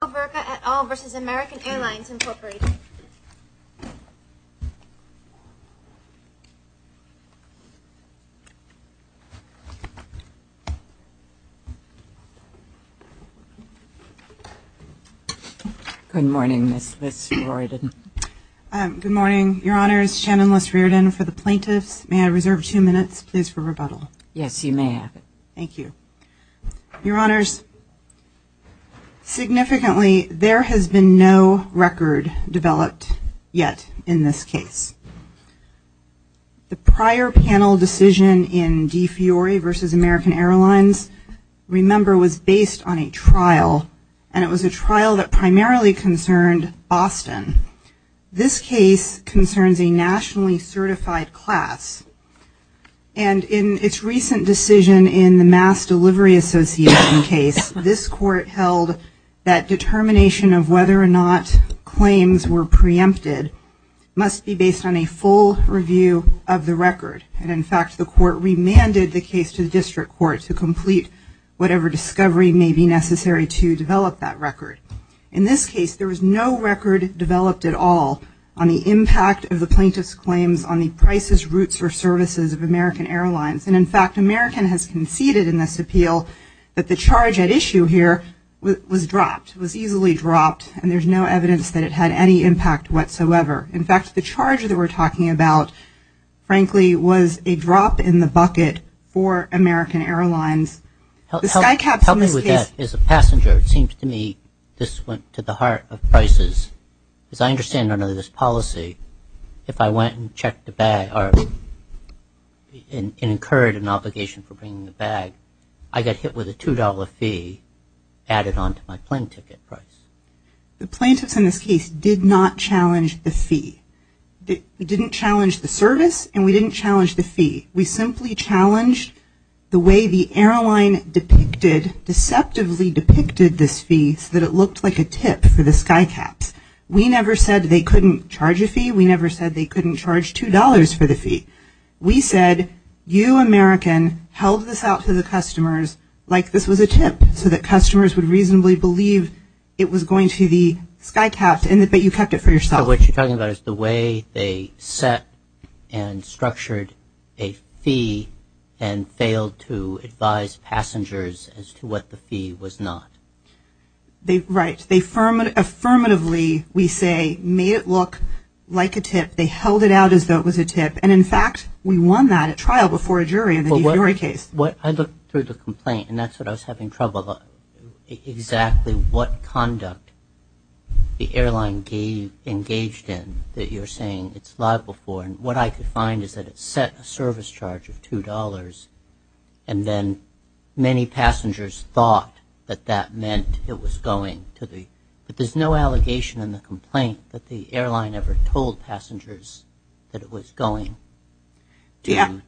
Good morning, Ms. Liss-Riordan. Good morning. Your Honors, Shannon Liss-Riordan for the Plaintiffs. May I reserve two minutes, please, for rebuttal? Yes, you may have it. Thank you. Your Honors, significantly, there has been no record developed yet in this case. The prior panel decision in D. Fiore v. American Airlines, remember, was based on a trial, and it was a trial that primarily concerned Boston. This case concerns a nationally certified class. And, in its recent decision in the Mass Delivery Association case, this Court held that determination of whether or not claims were preempted must be based on a full review of the record. And, in fact, the Court remanded the case to the District Court to complete whatever discovery may be necessary to develop that record. In this case, there was no record developed at all on the impact of the Plaintiff's claims on the prices, routes, or services of American Airlines. And, in fact, American has conceded in this appeal that the charge at issue here was dropped, was easily dropped, and there's no evidence that it had any impact whatsoever. In fact, the charge that we're talking about, frankly, was a drop in the bucket for American Airlines. The sky caps in this case. Help me with that. As a passenger, it seems to me this went to the heart of prices, because I understand under this policy, if I went and checked the bag, or incurred an obligation for bringing the bag, I got hit with a $2 fee added on to my plane ticket price. The Plaintiffs in this case did not challenge the fee. They didn't challenge the service, and we didn't challenge the fee. We simply challenged the way the airline depicted, deceptively depicted this fee so that it looked like a tip for the sky caps. We never said they couldn't charge a fee. We never said they couldn't charge $2 for the fee. We said, you, American, held this out to the customers like this was a tip, so that customers would reasonably believe it was going to the sky caps, but you kept it for yourself. So what you're talking about is the way they set and structured a fee, and failed to advise passengers as to what the fee was not. Right. Affirmatively, we say, made it look like a tip. They held it out as though it was a tip, and in fact, we won that at trial before a jury in the case. I looked through the complaint, and that's what I was having trouble with, exactly what conduct the airline engaged in that you're saying it's liable for, and what I could find is that it set a service charge of $2, and then many passengers thought that that meant it was going to the, but there's no allegation in the complaint that the airline ever told passengers that it was going to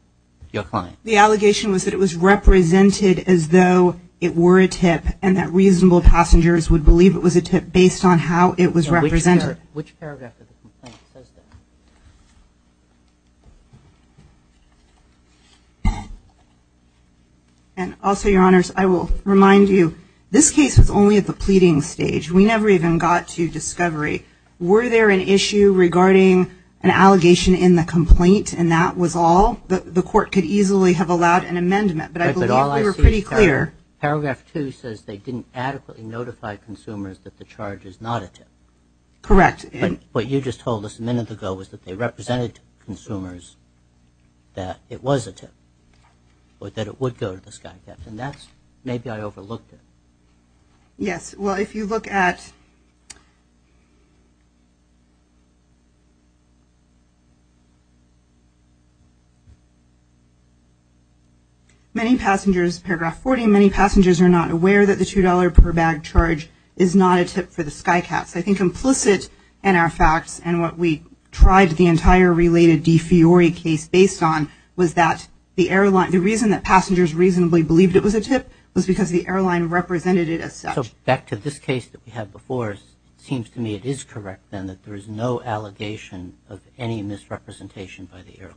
your client. The allegation was that it was represented as though it were a tip, and that reasonable passengers would believe it was a tip based on how it was represented. Which paragraph of the complaint says that? And also, your honors, I will remind you, this case was only at the pleading stage. We never even got to discovery. Were there an issue regarding an allegation in the complaint, and that was all? The court could easily have allowed an amendment, but I believe we were pretty clear. Paragraph two says they didn't adequately notify consumers that the charge is not a tip. Correct. What you just told us a minute ago was that they represented to consumers that it was a tip, or that it would go to the SkyCats, and that's, maybe I overlooked it. Yes. Well, if you look at many passengers, paragraph 40, many passengers are not aware that the $2 per bag charge is not a tip for the SkyCats. I think implicit in our facts, and what we tried the entire related De Fiori case based on, was that the airline, the reason that passengers reasonably believed it was a tip was because the airline represented it as such. So, back to this case that we had before, it seems to me it is correct, then, that there is no allegation of any misrepresentation by the airline.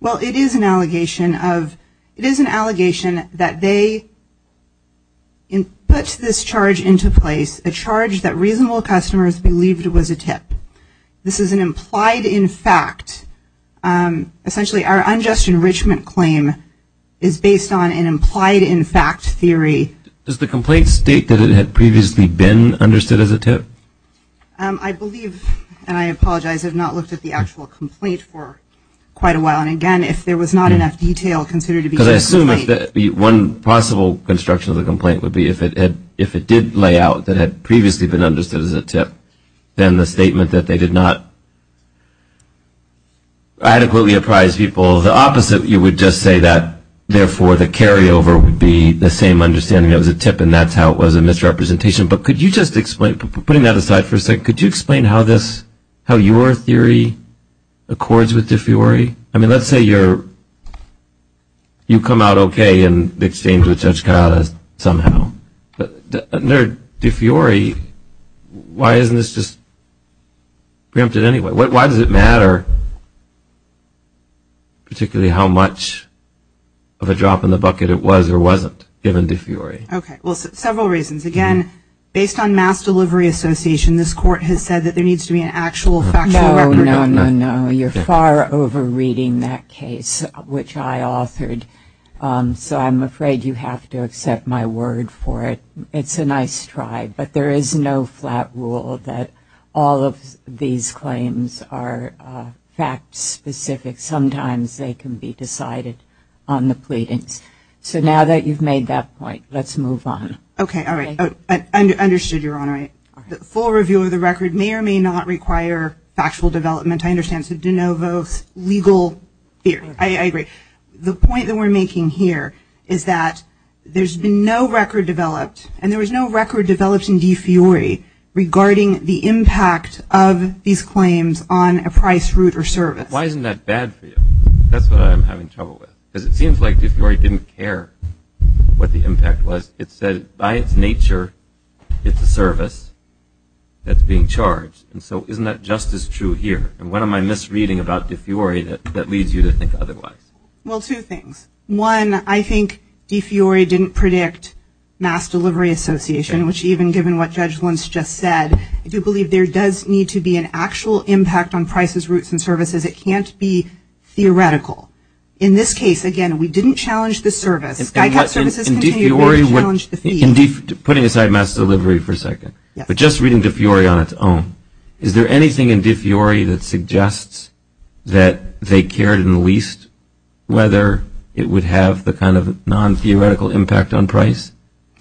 Well, it is an allegation of, it is an allegation that they put this charge into place, a charge that reasonable customers believed it was a tip. This is an implied in fact, essentially our unjust enrichment claim is based on an implied in fact theory. Does the complaint state that it had previously been understood as a tip? I believe, and I apologize, I have not looked at the actual complaint for quite a while, and again, if there was not enough detail considered to be a complaint. Because I assume that one possible construction of the complaint would be if it did lay out that it had previously been understood as a tip, then the statement that they did not adequately apprise people, the opposite, you would just say that, therefore, the carry over would be the same understanding that it was a tip and that is how it was a misrepresentation. But could you just explain, putting that aside for a second, could you explain how this, how your theory accords with De Fiori? I mean, let's say you are, you come out okay in exchange with Judge Coyotas, somehow. But under De Fiori, why isn't this just preempted anyway? Why does it matter, particularly how much of a drop in the bucket it was or wasn't, given De Fiori? Okay, well, several reasons. Again, based on mass delivery association, this court has said that there needs to be an actual factual record of that. No, no, no, no, you're far over reading that case, which I authored. So I'm afraid you have to accept my word for it. It's a nice try, but there is no flat rule that all of these claims are fact specific. Sometimes they can be decided on the pleadings. So now that you've made that point, let's move on. Okay, all right, understood, Your Honor. The full review of the record may or may not require factual development. I understand, so De Novo's legal fear, I agree. The point that we're making here is that there's been no record developed, and there was no record developed in De Fiori regarding the impact of these claims on a price, route, or service. Why isn't that bad for you? That's what I'm having trouble with. Because it seems like De Fiori didn't care what the impact was. It said, by its nature, it's a service that's being charged. And so isn't that just as true here? And what am I misreading about De Fiori that leads you to think otherwise? Well, two things. One, I think De Fiori didn't predict mass delivery association, which even given what Judge Lentz just said, I do believe there does need to be an actual impact on prices, routes, and services. It can't be theoretical. In this case, again, we didn't challenge the service. Guy Capp's services continue to challenge the fee. Putting aside mass delivery for a second, but just reading De Fiori on its own, is there anything in De Fiori that suggests that they cared in the least, whether it would have the kind of non-theoretical impact on price?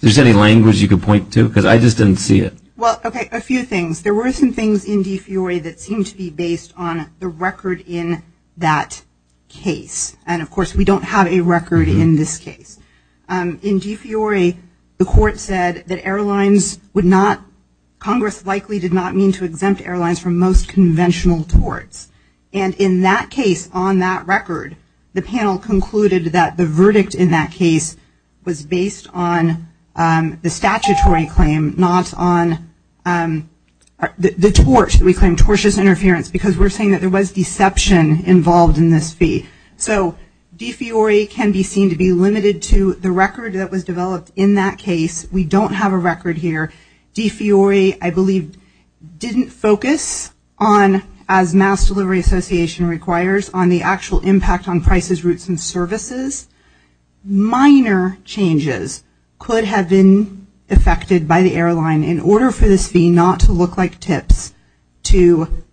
Is there any language you could point to? Because I just didn't see it. Well, OK, a few things. There were some things in De Fiori that seemed to be based on the record in that case. And of course, we don't have a record in this case. In De Fiori, the court said that airlines would not, Congress likely did not mean to exempt airlines from most conventional torts. And in that case, on that record, the panel concluded that the verdict in that case was based on the statutory claim, not on the tort, we claim tortious interference, because we're saying that there was deception involved in this fee. So, De Fiori can be seen to be limited to the record that was developed in that case. We don't have a record here. De Fiori, I believe, didn't focus on, as Mass Delivery Association requires, on the actual impact on prices, routes, and services. Minor changes could have been effected by the airline in order for this fee not to look like tips to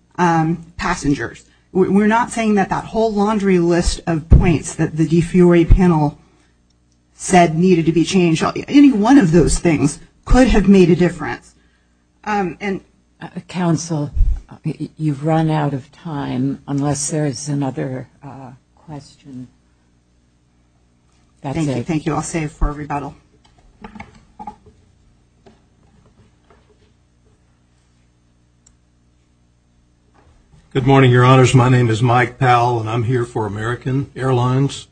passengers. We're not saying that that whole laundry list of points that the De Fiori panel said needed to be changed. Any one of those things could have made a difference. Council, you've run out of time, unless there is another question. That's it. Thank you. Thank you. I'll save for a rebuttal. Good morning, your honors. My name is Mike Powell, and I'm here for American Airlines.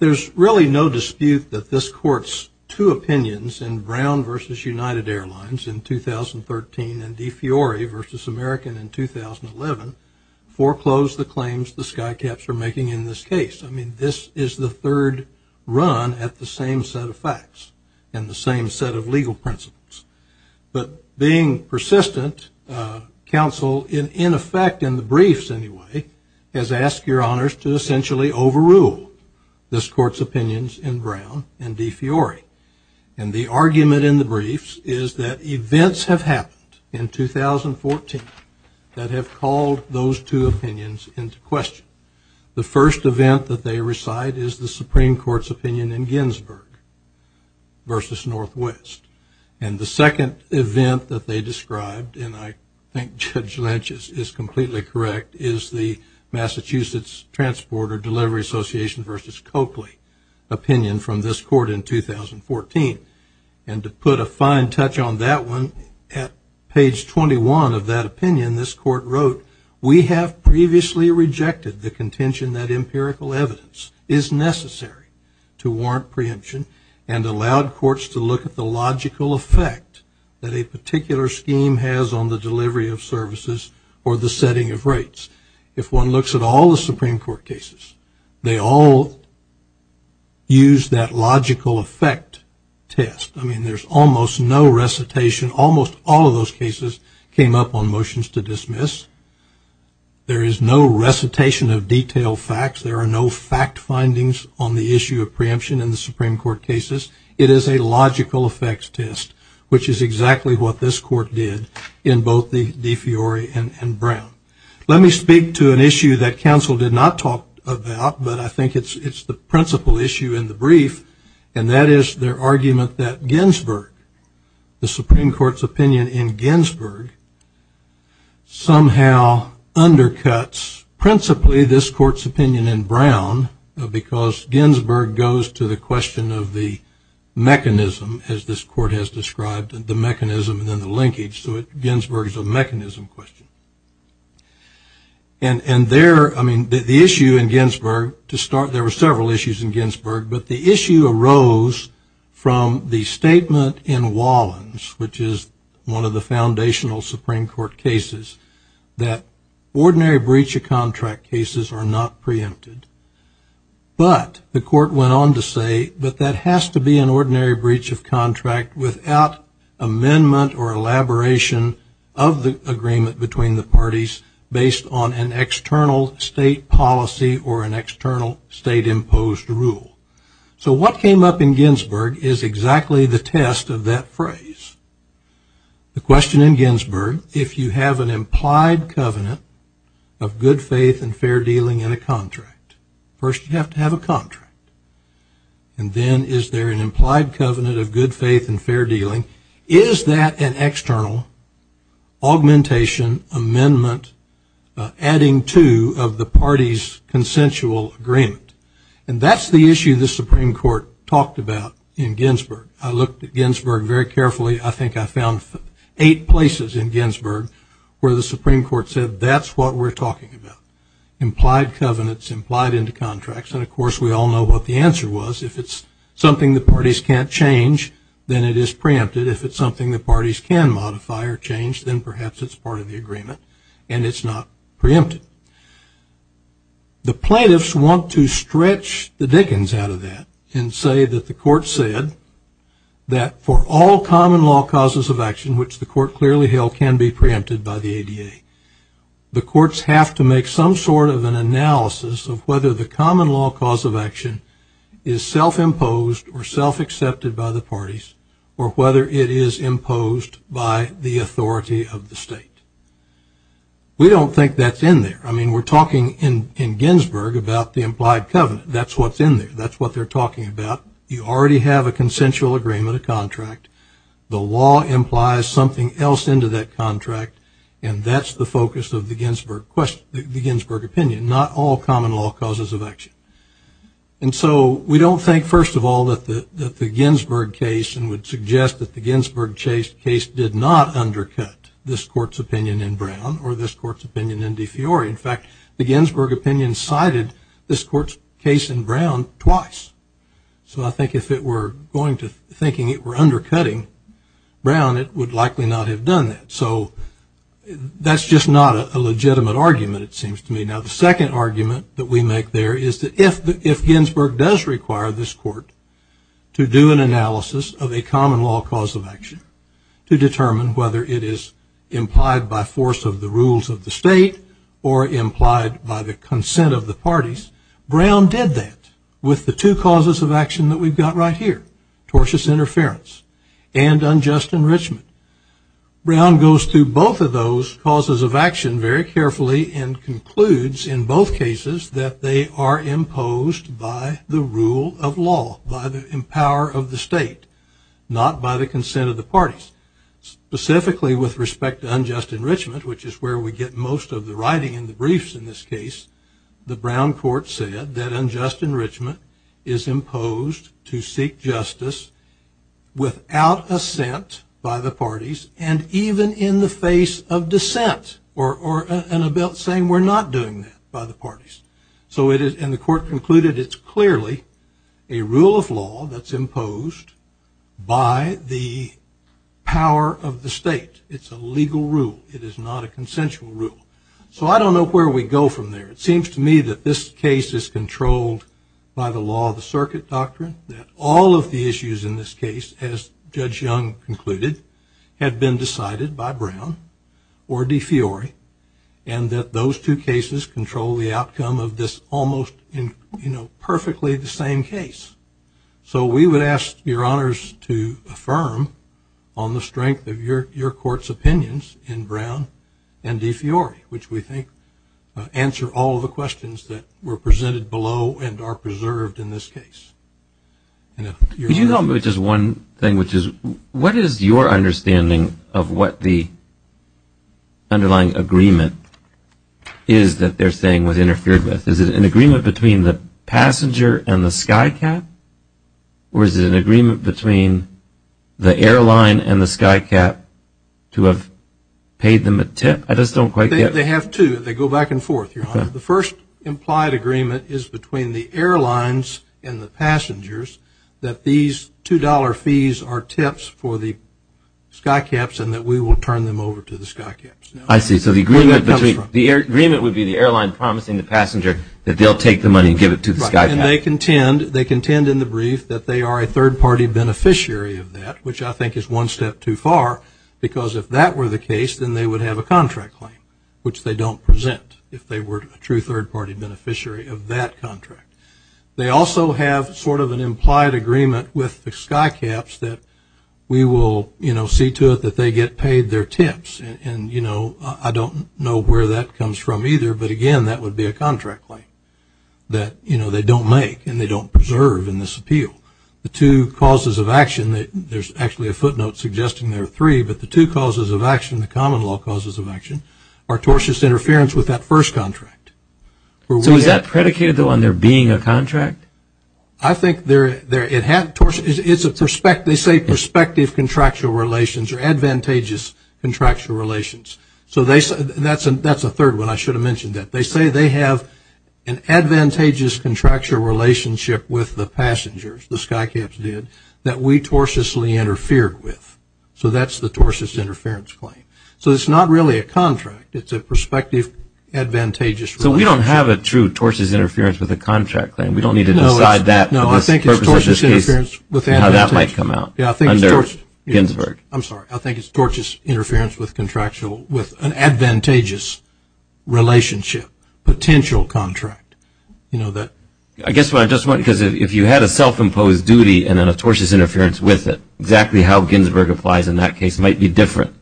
There's really no dispute that this court's two opinions in Brown versus United Airlines in 2013 and De Fiori versus American in 2011 foreclosed the claims the skycaps are making in this case. I mean, this is the third run at the same set of facts and the same set of legal principles. But being persistent, counsel, in effect, in the briefs anyway, has asked your honors to essentially overrule this court's opinions in Brown and De Fiori. And the argument in the briefs is that events have happened in 2014 that have called those two opinions into question. The first event that they recite is the Supreme Court's opinion in Ginsburg versus Northwest. And the second event that they described, and I think Judge Lynch is completely correct, is the Massachusetts Transporter Delivery Association versus Coakley opinion from this court in 2014. And to put a fine touch on that one, at page 21 of that opinion, this court wrote, we have previously rejected the contention that empirical evidence is necessary to warrant preemption and allowed courts to look at the logical effect that a particular scheme has on the delivery of services or the setting of rates. If one looks at all the Supreme Court cases, they all use that logical effect test. I mean, there's almost no recitation. Almost all of those cases came up on motions to dismiss. There is no recitation of detailed facts. There are no fact findings on the issue of preemption in the Supreme Court cases. It is a logical effects test, which is exactly what this court did in both the De Fiori and Brown. Let me speak to an issue that counsel did not talk about, but I think it's the principal issue in the brief. And that is their argument that Ginsburg, the Supreme Court's opinion in Ginsburg, because Ginsburg goes to the question of the mechanism, as this court has described, the mechanism and then the linkage. So Ginsburg is a mechanism question. And there, I mean, the issue in Ginsburg, to start, there were several issues in Ginsburg, but the issue arose from the statement in Wallens, which is one of the foundational Supreme Court cases, that ordinary breach of contract cases are not preempted. But the court went on to say, but that has to be an ordinary breach of contract without amendment or elaboration of the agreement between the parties based on an external state policy or an external state-imposed rule. So what came up in Ginsburg is exactly the test of that phrase. The question in Ginsburg, if you have an implied covenant of good faith and fair dealing in a contract, first you have to have a contract. And then is there an implied covenant of good faith and fair dealing? Is that an external augmentation amendment adding to of the party's consensual agreement? And that's the issue the Supreme Court talked about in Ginsburg. I looked at Ginsburg very carefully. I think I found eight places in Ginsburg where the Supreme Court said that's what we're talking about. Implied covenants, implied into contracts. And of course, we all know what the answer was. If it's something the parties can't change, then it is preempted. If it's something the parties can modify or change, then perhaps it's part of the agreement. And it's not preempted. The plaintiffs want to stretch the dickens out of that and say that the court said that for all common law causes of action, which the court clearly held can be preempted by the ADA, the courts have to make some sort of an analysis of whether the common law cause of action is self-imposed or self-accepted by the parties or whether it is imposed by the authority of the state. We don't think that's in there. I mean, we're talking in Ginsburg about the implied covenant. That's what's in there. That's what they're talking about. You already have a consensual agreement, a contract. The law implies something else into that contract, and that's the focus of the Ginsburg opinion, not all common law causes of action. And so we don't think, first of all, that the Ginsburg case and would suggest that the Ginsburg case did not undercut this court's opinion in Brown or this court's opinion in De Fiori. In fact, the Ginsburg opinion cited this court's case in Brown twice. So I think if it were going to thinking it were undercutting Brown, it would likely not have done that. So that's just not a legitimate argument, it seems to me. Now, the second argument that we make there is that if Ginsburg does require this court to do an analysis of a common law cause of action to determine whether it is implied by force of the rules of the state or implied by the consent of the parties, Brown did that with the two causes of action that we've got right here, tortious interference and unjust enrichment. Brown goes through both of those causes of action very carefully and concludes in both cases that they are imposed by the rule of law, by the power of the state, not by the consent of the parties. Specifically with respect to unjust enrichment, which is where we get most of the writing in the briefs in this case, the Brown court said that unjust enrichment is imposed to seek justice without assent by the parties and even in the face of dissent or in a belt saying we're not doing that by the parties. So it is, and the court concluded it's clearly a rule of law that's imposed by the power of the state. It's a legal rule. It is not a consensual rule. So I don't know where we go from there. It seems to me that this case is controlled by the law of the circuit doctrine, that all of the issues in this case, as Judge Young concluded, had been decided by Brown or De Fiori, and that those two cases control the outcome of this almost, you know, perfectly the same case. So we would ask your honors to affirm on the strength of your court's opinions in Brown and De Fiori, which we think answer all of the questions that were presented below and are preserved in this case. And if you're not. Could you help me with just one thing, which is what is your understanding of what the underlying agreement is that they're saying was interfered with? Is it an agreement between the passenger and the skycap? Or is it an agreement between the airline and the skycap to have paid them a tip? I just don't quite get it. They have two. They go back and forth, your honor. The first implied agreement is between the airlines and the passengers that these $2 fees are tips for the skycaps and that we will turn them over to the skycaps. I see. So the agreement would be the airline promising the passenger that they'll take the money and give it to the skycap. And they contend in the brief that they are a third-party beneficiary of that, which I think is one step too far. Because if that were the case, then they would have a contract claim, which they don't present if they were a true third-party beneficiary of that contract. They also have sort of an implied agreement with the skycaps that we will, you know, see to it that they get paid their tips. And, you know, I don't know where that comes from either, but again, that would be a contract claim that, you know, they don't make and they don't preserve in this appeal. The two causes of action, there's actually a footnote suggesting there are three, but the two causes of action, the common law causes of action, are tortious interference with that first contract. So is that predicated, though, on there being a contract? I think there, it had, it's a, they say prospective contractual relations or advantageous contractual relations. So they, that's a third one. I should have mentioned that. They say they have an advantageous contractual relationship with the passengers, the skycaps did, that we tortiously interfered with. So that's the tortious interference claim. So it's not really a contract. It's a prospective advantageous relationship. So we don't have a true tortious interference with a contract claim. We don't need to decide that. No, I think it's tortious interference with advantageous. How that might come out. Yeah, I think it's tortious. Under Ginsburg. I'm sorry. I think it's tortious interference with contractual, with an advantageous relationship, potential contract. You know, that. I guess what I'm just wondering, because if you had a self-imposed duty and then a tortious interference with it, exactly how Ginsburg applies in that case might be different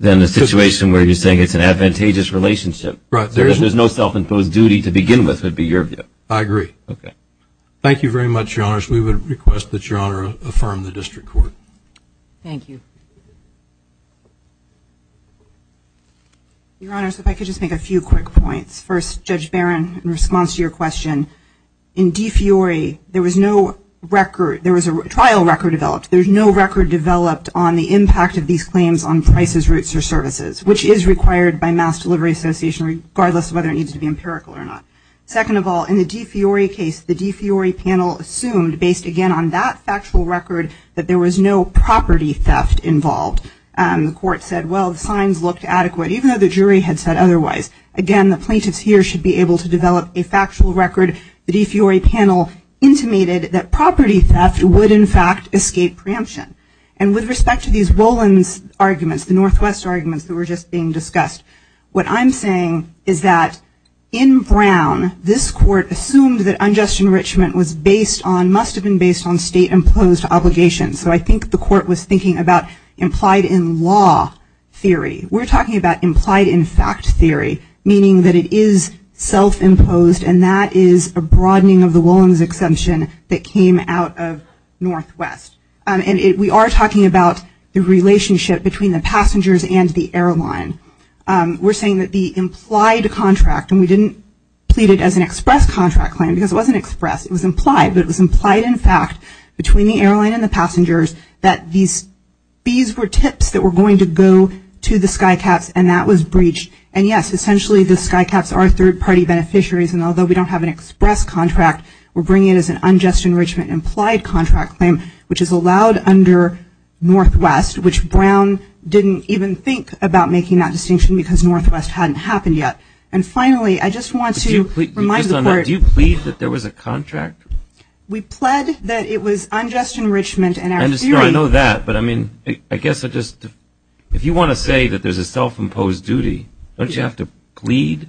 than the situation where you're saying it's an advantageous relationship. Right. There's no self-imposed duty to begin with, would be your view. I agree. Okay. Thank you very much, Your Honors. We would request that Your Honor affirm the district court. Thank you. Your Honors, if I could just make a few quick points. First, Judge Barron, in response to your question, in DFIORI, there was no record. There was a trial record developed. There's no record developed on the impact of these claims on prices, routes, or services, which is required by Mass Delivery Association, regardless of whether it needs to be empirical or not. Second of all, in the DFIORI case, the DFIORI panel assumed, based again on that factual record, that there was no property theft involved. The court said, well, the signs looked adequate, even though the jury had said otherwise. Again, the plaintiffs here should be able to develop a factual record. The DFIORI panel intimated that property theft would, in fact, escape preemption. And with respect to these Rollins arguments, the Northwest arguments that were just being discussed, what I'm saying is that in Brown, this court assumed that unjust enrichment was based on, must have been based on, state-imposed obligations. So I think the court was thinking about implied-in-law theory. We're talking about implied-in-fact theory, meaning that it is self-imposed, and that is a broadening of the Rollins exemption that came out of Northwest. And we are talking about the relationship between the passengers and the airline. We're saying that the implied contract, and we didn't plead it as an express contract claim, because it wasn't express. It was implied, but it was implied, in fact, between the airline and the passengers, that these fees were tips that were going to go to the SkyCats, and that was breached. And yes, essentially, the SkyCats are third-party beneficiaries, and although we don't have an express contract, we're bringing it as an unjust enrichment implied contract claim, which is allowed under Northwest, which Brown didn't even think about making that distinction, because Northwest hadn't happened yet. And finally, I just want to remind the court. Do you plead that there was a contract? We pled that it was unjust enrichment, and our theory. I know that, but I mean, I guess I just, if you want to say that there's a self-imposed duty, don't you have to plead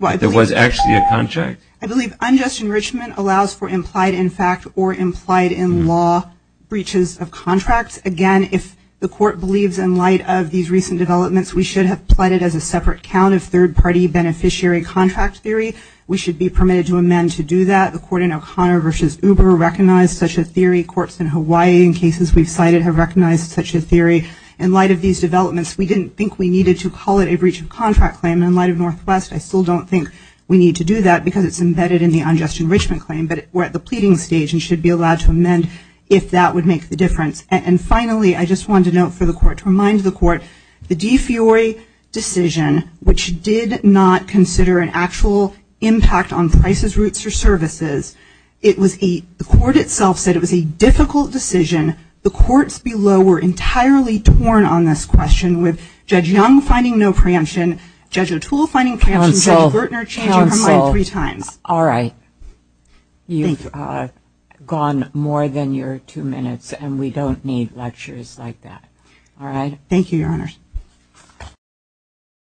that there was actually a contract? I believe unjust enrichment allows for implied-in-fact or implied-in-law breaches of contracts. Again, if the court believes in light of these recent developments, we should have pleaded as a separate count of third-party beneficiary contract theory. We should be permitted to amend to do that. The court in O'Connor v. Uber recognized such a theory. Courts in Hawaii, in cases we've cited, have recognized such a theory. In light of these developments, we didn't think we needed to call it a breach of contract claim. In light of Northwest, I still don't think we need to do that, because it's embedded in the unjust enrichment claim, but we're at the pleading stage and should be allowed to amend if that would make the difference. And finally, I just wanted to note for the court, to remind the court, the De Fiori decision, which did not consider an actual impact on prices, routes, or services, it was a, the court itself said it was a difficult decision. The courts below were entirely torn on this question with Judge Young finding no preemption, Judge O'Toole finding preemption, Judge Gertner changing her mind three times. All right. You've gone more than your two minutes, and we don't need lectures like that. All right? Thank you, Your Honors.